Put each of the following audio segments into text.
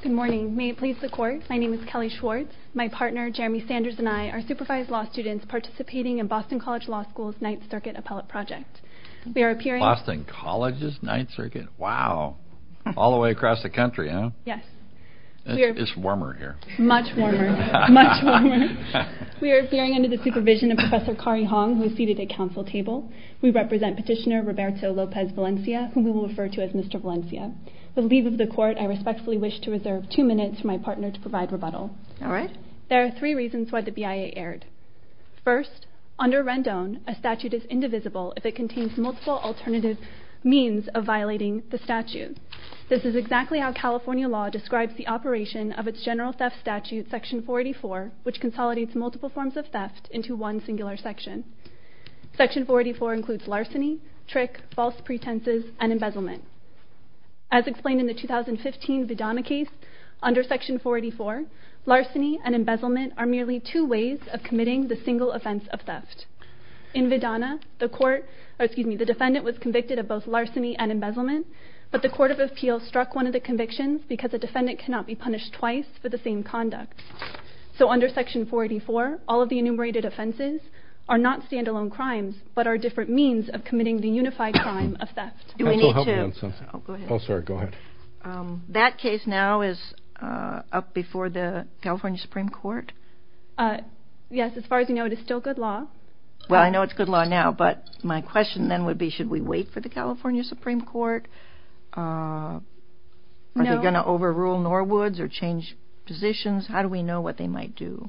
Good morning. May it please the court, my name is Kelly Schwartz. My partner Jeremy Sanders and I are supervised law students participating in Boston College Law School's Ninth Circuit Appellate Project. Boston College's Ninth Circuit? Wow! All the way across the country, huh? Yes. It's warmer here. Much warmer. Much warmer. We are appearing under the supervision of Professor Kari Hong, who is seated at council table. We represent Petitioner Roberto Lopez Valencia, whom we will refer to as Mr. Valencia. With leave of the court, I respectfully wish to reserve two minutes for my partner to provide rebuttal. There are three reasons why the BIA erred. First, under Rendon, a statute is indivisible if it contains multiple alternative means of violating the statute. This is exactly how California law describes the operation of its general theft statute, Section 484, which consolidates multiple forms of theft into one singular section. Section 484 includes larceny, trick, false pretenses, and embezzlement. As explained in the 2015 Vidana case, under Section 484, larceny and embezzlement are merely two ways of committing the single offense of theft. In Vidana, the defendant was convicted of both larceny and embezzlement, but the Court of Appeals struck one of the convictions because a defendant cannot be punished twice for the same conduct. So under Section 484, all of the enumerated offenses are not stand-alone crimes, but are different means of committing the unified crime of theft. That case now is up before the California Supreme Court? Yes, as far as we know, it is still good law. Well, I know it's good law now, but my question then would be should we wait for the California Supreme Court? Are they going to overrule Norwoods or change positions? How do we know what they might do?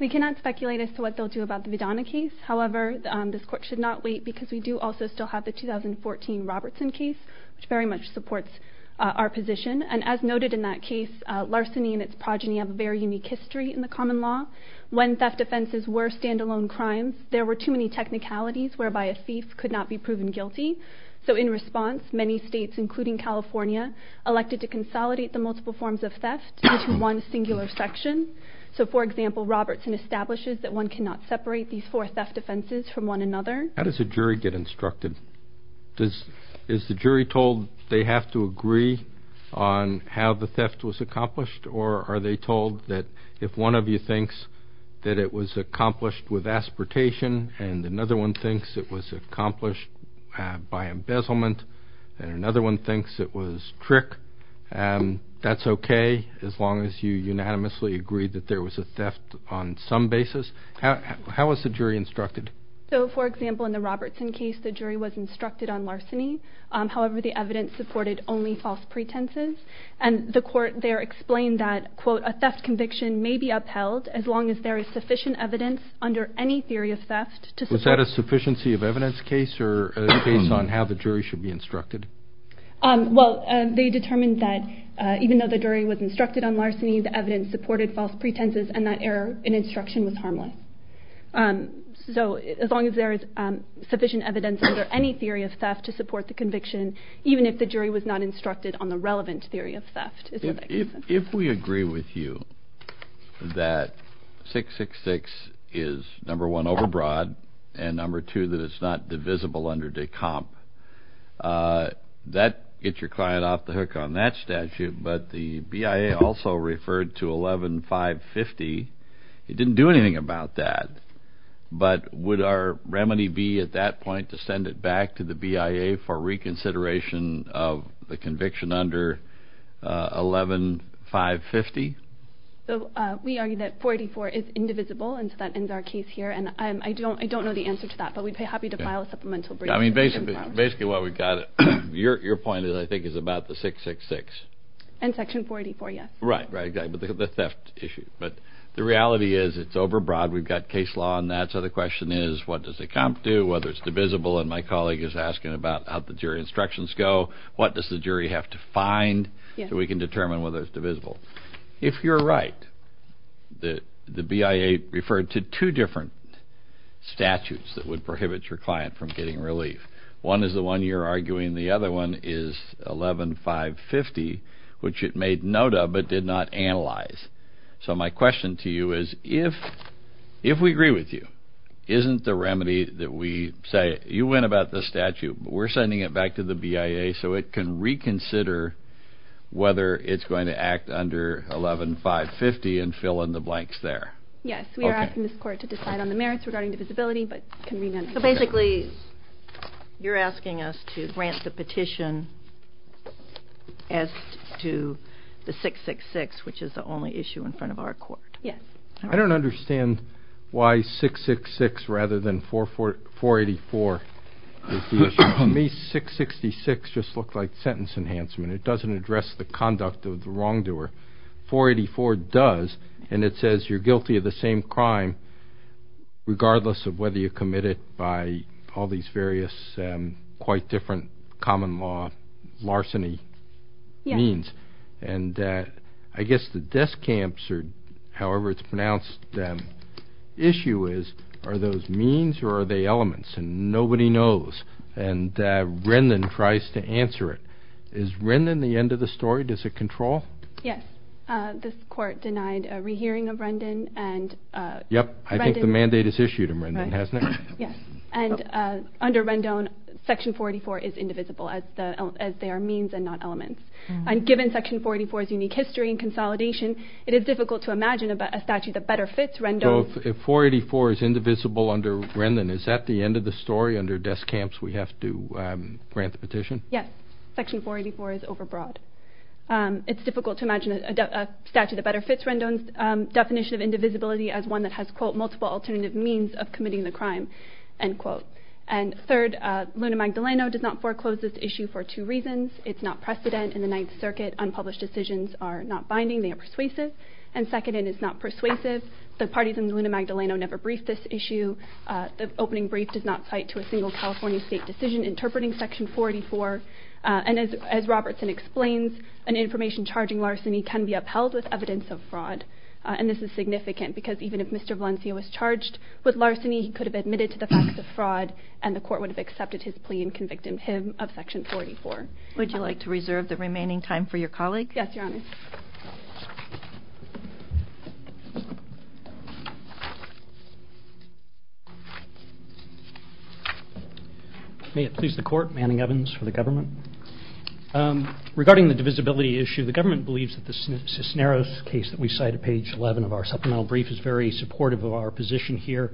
We cannot speculate as to what they'll do about the Vidana case. However, this Court should not wait because we do also still have the 2014 Robertson case, which very much supports our position. And as noted in that case, larceny and its progeny have a very unique history in the common law. When theft offenses were stand-alone crimes, there were too many technicalities whereby a thief could not be proven guilty. So in response, many states, including California, elected to consolidate the multiple forms of theft into one singular section. So for example, Robertson establishes that one cannot separate these four theft offenses from one another. How does a jury get instructed? Is the jury told they have to agree on how the theft was accomplished, or are they told that if one of you thinks that it was accomplished with aspiratation and another one thinks it was accomplished by embezzlement and another one thinks it was trick, that's okay as long as you unanimously agree that there was a theft on some basis? How is the jury instructed? So for example, in the Robertson case, the jury was instructed on larceny. However, the evidence supported only false pretenses. And the Court there explained that, quote, a theft conviction may be upheld as long as there is sufficient evidence under any theory of theft to support it. Was that a sufficiency of evidence case or a case on how the jury should be instructed? Well, they determined that even though the jury was instructed on larceny, so as long as there is sufficient evidence under any theory of theft to support the conviction, even if the jury was not instructed on the relevant theory of theft. If we agree with you that 666 is, number one, overbroad, and number two, that it's not divisible under de comp, that gets your client off the hook on that statute. Okay, but the BIA also referred to 11-550. It didn't do anything about that. But would our remedy be at that point to send it back to the BIA for reconsideration of the conviction under 11-550? So we argue that 484 is indivisible, and so that ends our case here. And I don't know the answer to that, but we'd be happy to file a supplemental brief. I mean, basically what we've got, your point, I think, is about the 666. And section 484, yes. Right, right, the theft issue. But the reality is it's overbroad. We've got case law on that, so the question is what does a comp do, whether it's divisible, and my colleague is asking about how the jury instructions go. What does the jury have to find so we can determine whether it's divisible? If you're right, the BIA referred to two different statutes that would prohibit your client from getting relief. One is the one you're arguing. The other one is 11-550, which it made note of but did not analyze. So my question to you is if we agree with you, isn't the remedy that we say you went about the statute, but we're sending it back to the BIA so it can reconsider whether it's going to act under 11-550 and fill in the blanks there? Yes, we are asking this court to decide on the merits regarding divisibility. So basically you're asking us to grant the petition as to the 666, which is the only issue in front of our court. Yes. I don't understand why 666 rather than 484 is the issue. To me, 666 just looked like sentence enhancement. It doesn't address the conduct of the wrongdoer. 484 does, and it says you're guilty of the same crime regardless of whether you're committed by all these various, quite different common law larceny means. And I guess the desk camps, or however it's pronounced, issue is are those means or are they elements? And nobody knows. And Rendon tries to answer it. Is Rendon the end of the story? Does it control? Yes. This court denied a rehearing of Rendon. Yep. I think the mandate is issued in Rendon, hasn't it? Yes. And under Rendon, Section 484 is indivisible as they are means and not elements. And given Section 484's unique history and consolidation, it is difficult to imagine a statute that better fits Rendon. So if 484 is indivisible under Rendon, is that the end of the story? Under desk camps, we have to grant the petition? Yes. Section 484 is overbroad. It's difficult to imagine a statute that better fits Rendon's definition of indivisibility as one that has, quote, multiple alternative means of committing the crime, end quote. And third, Luna Magdaleno does not foreclose this issue for two reasons. It's not precedent in the Ninth Circuit. Unpublished decisions are not binding. They are persuasive. And second, it is not persuasive. The parties in Luna Magdaleno never briefed this issue. The opening brief does not cite to a single California state decision interpreting Section 484. And as Robertson explains, an information charging larceny can be upheld with evidence of fraud. And this is significant because even if Mr. Valencia was charged with larceny, he could have admitted to the facts of fraud and the court would have accepted his plea and convicted him of Section 484. Would you like to reserve the remaining time for your colleagues? Yes, Your Honor. May it please the Court, Manning Evans for the government. Regarding the divisibility issue, the government believes that the Cisneros case that we cite at page 11 of our supplemental brief is very supportive of our position here.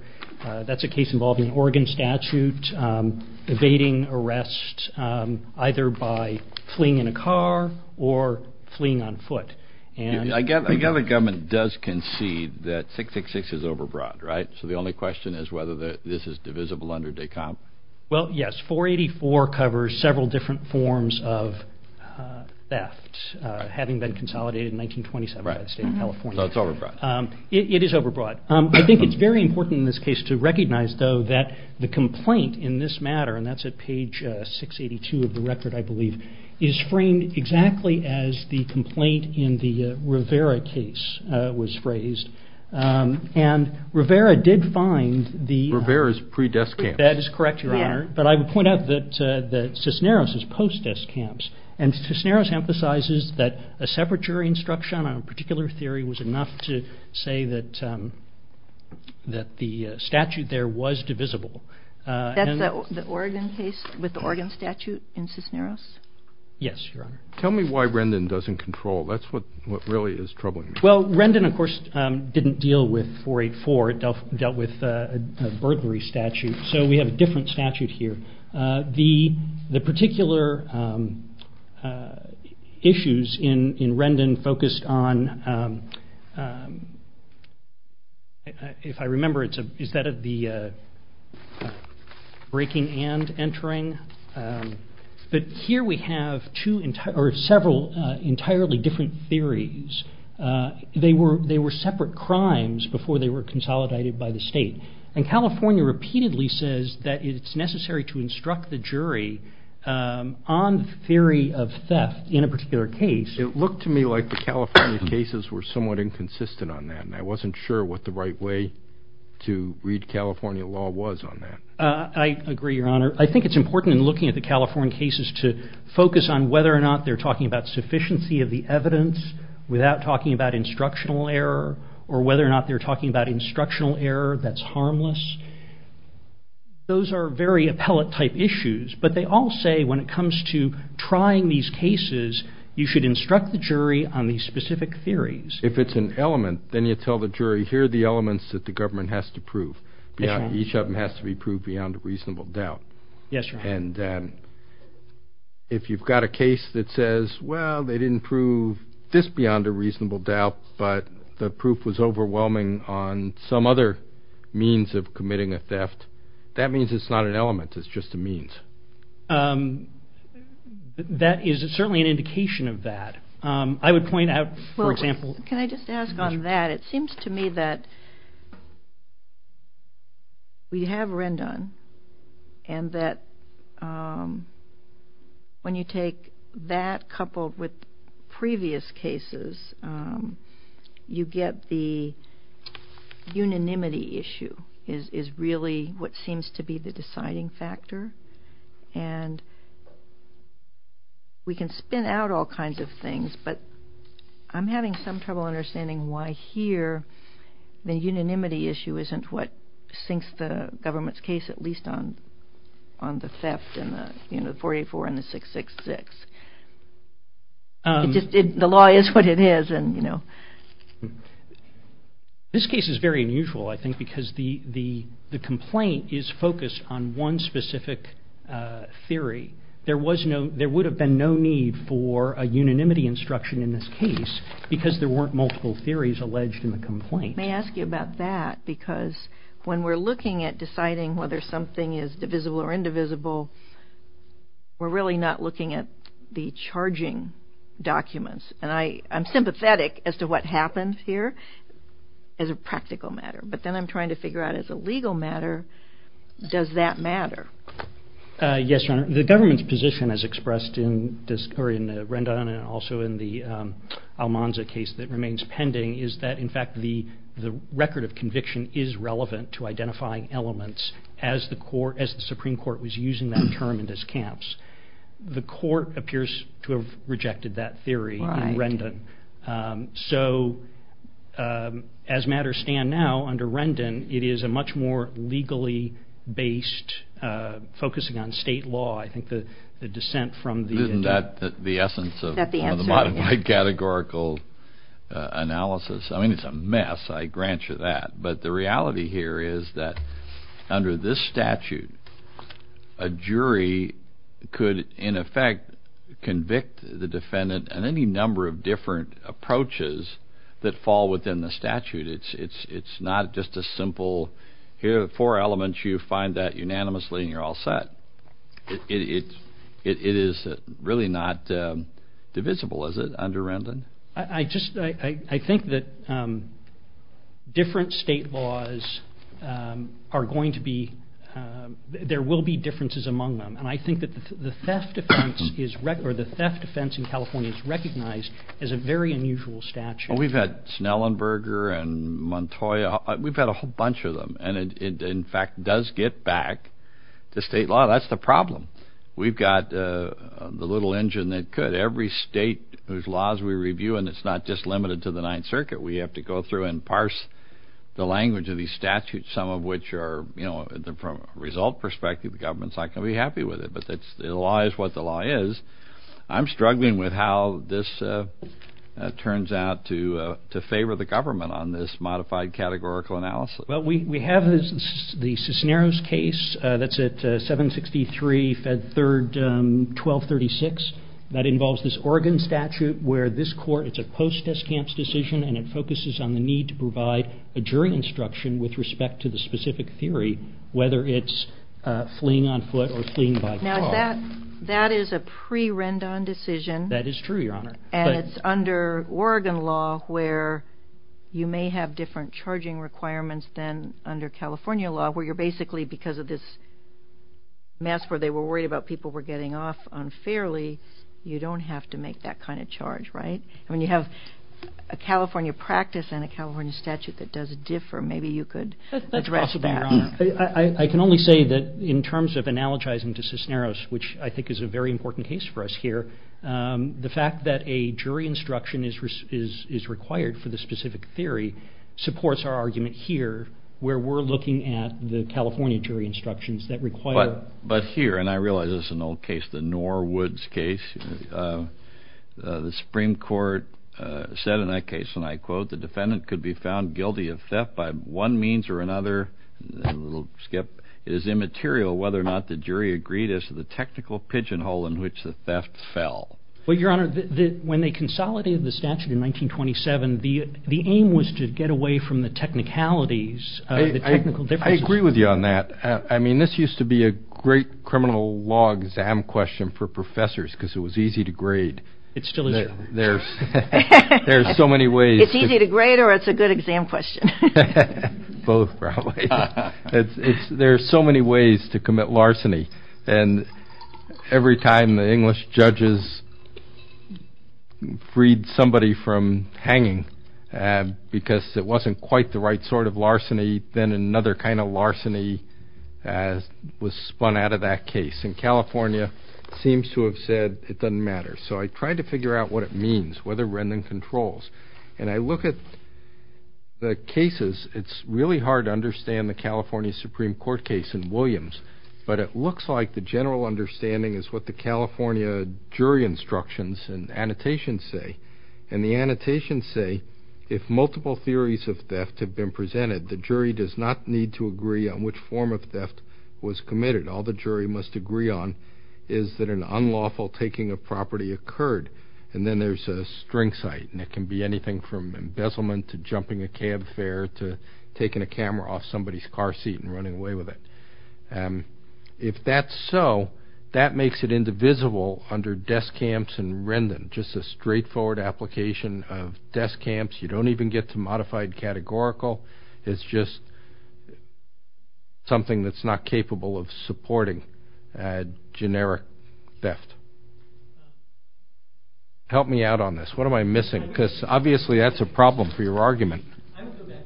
That's a case involving an Oregon statute evading arrest either by fleeing in a car or fleeing on foot. I gather the government does concede that 666 is overbroad, right? So the only question is whether this is divisible under DECOMP. Well, yes. 484 covers several different forms of theft, having been consolidated in 1927 by the State of California. So it's overbroad. It is overbroad. I think it's very important in this case to recognize, though, that the complaint in this matter, and that's at page 682 of the record, I believe, is framed exactly as the complaint in the Rivera case was phrased. And Rivera did find the... Rivera's pre-death camps. That is correct, Your Honor. But I would point out that Cisneros is post-death camps. And Cisneros emphasizes that a separatory instruction on a particular theory was enough to say that the statute there was divisible. That's the Oregon case with the Oregon statute in Cisneros? Yes, Your Honor. Tell me why Rendon doesn't control. That's what really is troubling me. Well, Rendon, of course, didn't deal with 484. It dealt with a burglary statute. So we have a different statute here. The particular issues in Rendon focused on, if I remember, is that of the breaking and entering? But here we have several entirely different theories. They were separate crimes before they were consolidated by the state. And California repeatedly says that it's necessary to instruct the jury on the theory of theft in a particular case. It looked to me like the California cases were somewhat inconsistent on that. And I wasn't sure what the right way to read California law was on that. I agree, Your Honor. I think it's important in looking at the California cases to focus on whether or not they're talking about sufficiency of the evidence without talking about instructional error or whether or not they're talking about instructional error that's harmless. Those are very appellate-type issues. But they all say when it comes to trying these cases, you should instruct the jury on these specific theories. If it's an element, then you tell the jury, here are the elements that the government has to prove. Each of them has to be proved beyond a reasonable doubt. Yes, Your Honor. And if you've got a case that says, well, they didn't prove this beyond a reasonable doubt, but the proof was overwhelming on some other means of committing a theft, that means it's not an element. It's just a means. That is certainly an indication of that. I would point out, for example. Can I just ask on that? It seems to me that we have Rendon and that when you take that coupled with previous cases, you get the unanimity issue is really what seems to be the deciding factor. And we can spin out all kinds of things, but I'm having some trouble understanding why here the unanimity issue isn't what sinks the government's case, at least on the theft in the 484 and the 666. The law is what it is. This case is very unusual, I think, because the complaint is focused on one specific theory. There would have been no need for a unanimity instruction in this case because there weren't multiple theories alleged in the complaint. May I ask you about that? Because when we're looking at deciding whether something is divisible or indivisible, we're really not looking at the charging documents. And I'm sympathetic as to what happens here as a practical matter, but then I'm trying to figure out as a legal matter, does that matter? Yes, Your Honor. The government's position as expressed in Rendon and also in the Almanza case that remains pending is that in fact the record of conviction is relevant to identifying elements as the Supreme Court was using that term in these camps. The court appears to have rejected that theory in Rendon. So as matters stand now under Rendon, it is a much more legally based, focusing on state law, I think the dissent from the- Isn't that the essence of the modern-day categorical analysis? I mean, it's a mess, I grant you that. But the reality here is that under this statute, a jury could in effect convict the defendant in any number of different approaches that fall within the statute. It's not just a simple, here are the four elements, you find that unanimously and you're all set. It is really not divisible, is it, under Rendon? I think that different state laws are going to be, there will be differences among them. And I think that the theft defense in California is recognized as a very unusual statute. We've had Schnellenberger and Montoya, we've had a whole bunch of them. And it in fact does get back to state law. That's the problem. We've got the little engine that could. Every state whose laws we review, and it's not just limited to the Ninth Circuit, we have to go through and parse the language of these statutes, some of which are, from a result perspective, the government's not going to be happy with it. But the law is what the law is. I'm struggling with how this turns out to favor the government on this modified categorical analysis. Well, we have the Cisneros case that's at 763 Fed 3rd, 1236. That involves this Oregon statute where this court, it's a post-descamps decision, and it focuses on the need to provide a jury instruction with respect to the specific theory, whether it's fleeing on foot or fleeing by car. Now, that is a pre-Rendon decision. That is true, Your Honor. And it's under Oregon law where you may have different charging requirements than under California law where you're basically, because of this mess where they were worried about people were getting off unfairly, you don't have to make that kind of charge, right? When you have a California practice and a California statute that does differ, maybe you could address that. That's possible, Your Honor. I can only say that in terms of analogizing to Cisneros, which I think is a very important case for us here, the fact that a jury instruction is required for the specific theory supports our argument here where we're looking at the California jury instructions that require... But here, and I realize this is an old case, the Norwoods case, the Supreme Court said in that case, and I quote, the defendant could be found guilty of theft by one means or another. We'll skip. It is immaterial whether or not the jury agreed as to the technical pigeonhole in which the theft fell. Well, Your Honor, when they consolidated the statute in 1927, the aim was to get away from the technicalities, the technical differences. I agree with you on that. I mean, this used to be a great criminal law exam question for professors because it was easy to grade. It still is. There's so many ways. It's easy to grade or it's a good exam question. Both, probably. There are so many ways to commit larceny, and every time the English judges freed somebody from hanging because it wasn't quite the right sort of larceny, then another kind of larceny was spun out of that case, and California seems to have said it doesn't matter. So I tried to figure out what it means, whether Rendon controls, and I look at the cases. It's really hard to understand the California Supreme Court case in Williams, but it looks like the general understanding is what the California jury instructions and annotations say, and the annotations say if multiple theories of theft have been presented, the jury does not need to agree on which form of theft was committed. All the jury must agree on is that an unlawful taking of property occurred, and then there's a string cite, and it can be anything from embezzlement to jumping a cab fare to taking a camera off somebody's car seat and running away with it. If that's so, that makes it indivisible under desk camps and Rendon, just a straightforward application of desk camps. You don't even get to modified categorical. It's just something that's not capable of supporting generic theft. Help me out on this. What am I missing? Because obviously that's a problem for your argument. I will go back.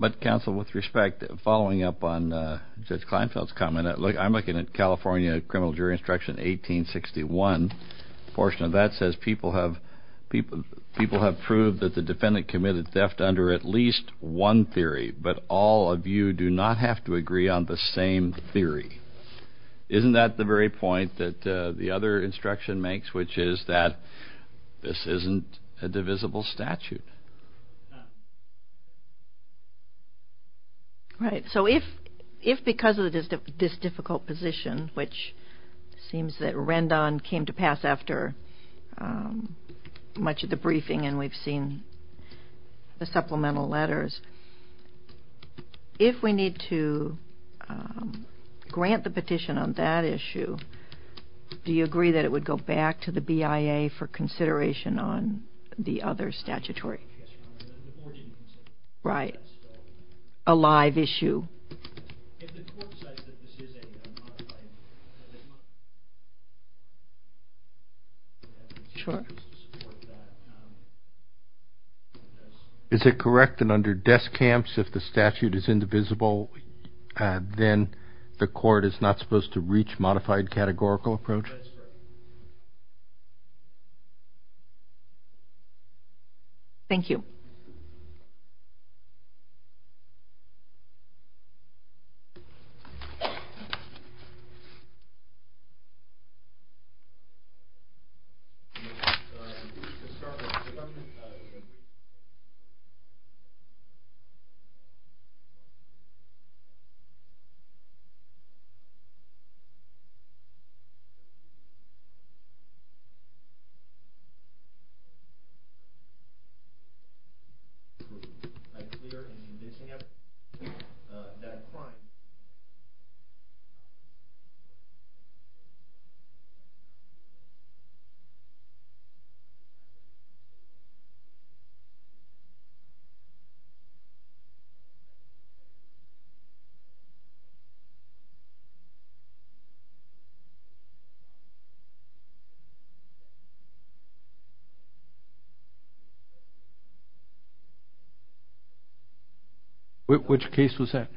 But counsel, with respect, following up on Judge Kleinfeld's comment, I'm looking at California criminal jury instruction 1861. A portion of that says people have proved that the defendant committed theft under at least one theory, but all of you do not have to agree on the same theory. Isn't that the very point that the other instruction makes, which is that this isn't a divisible statute? Right. So if because of this difficult position, which seems that Rendon came to pass after much of the briefing and we've seen the supplemental letters, if we need to grant the petition on that issue, do you agree that it would go back to the BIA for consideration on the other statutory? Right. A live issue. Is it correct that under desk camps, if the statute is indivisible, then the court is not supposed to reach modified categorical approach? That's correct. Thank you. Judge Kleinfeld. Which case was that?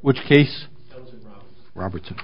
Which case? Robertson.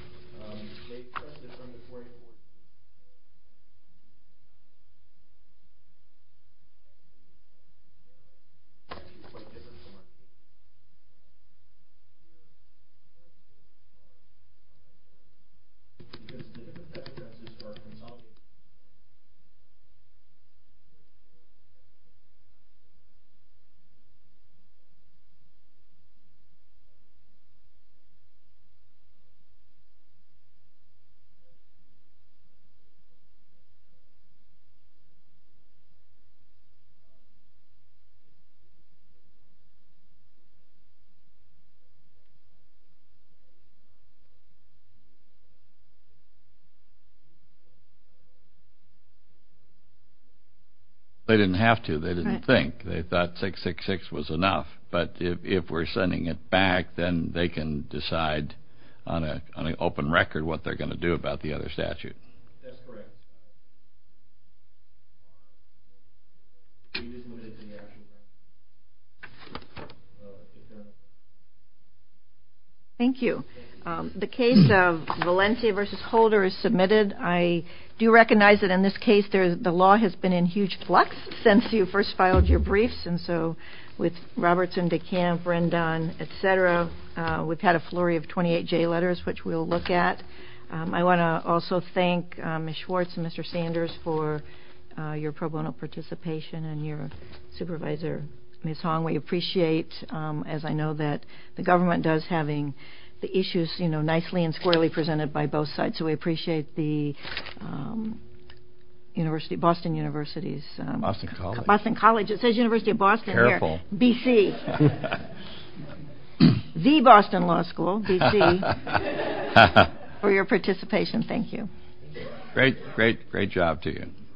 They didn't have to. They didn't think. They thought 666 was enough. But if we're sending it back, then they can decide on an open record what they're going to do about the other statute. That's correct. Thank you. The case of Valencia versus Holder is submitted. I do recognize that in this case the law has been in huge flux since you first filed your briefs. And so with Robertson, DeKalb, Rendon, et cetera, we've had a flurry of 28 J letters, which we'll look at. I want to also thank Ms. Schwartz and Mr. Sanders for your pro bono participation and your supervisor, Ms. Hong. We appreciate, as I know that the government does, having the issues nicely and squarely presented by both sides. So we appreciate the Boston University's. Boston College. It says University of Boston there. Careful. B.C. The Boston Law School. B.C. For your participation. Thank you. Great, great, great job to you.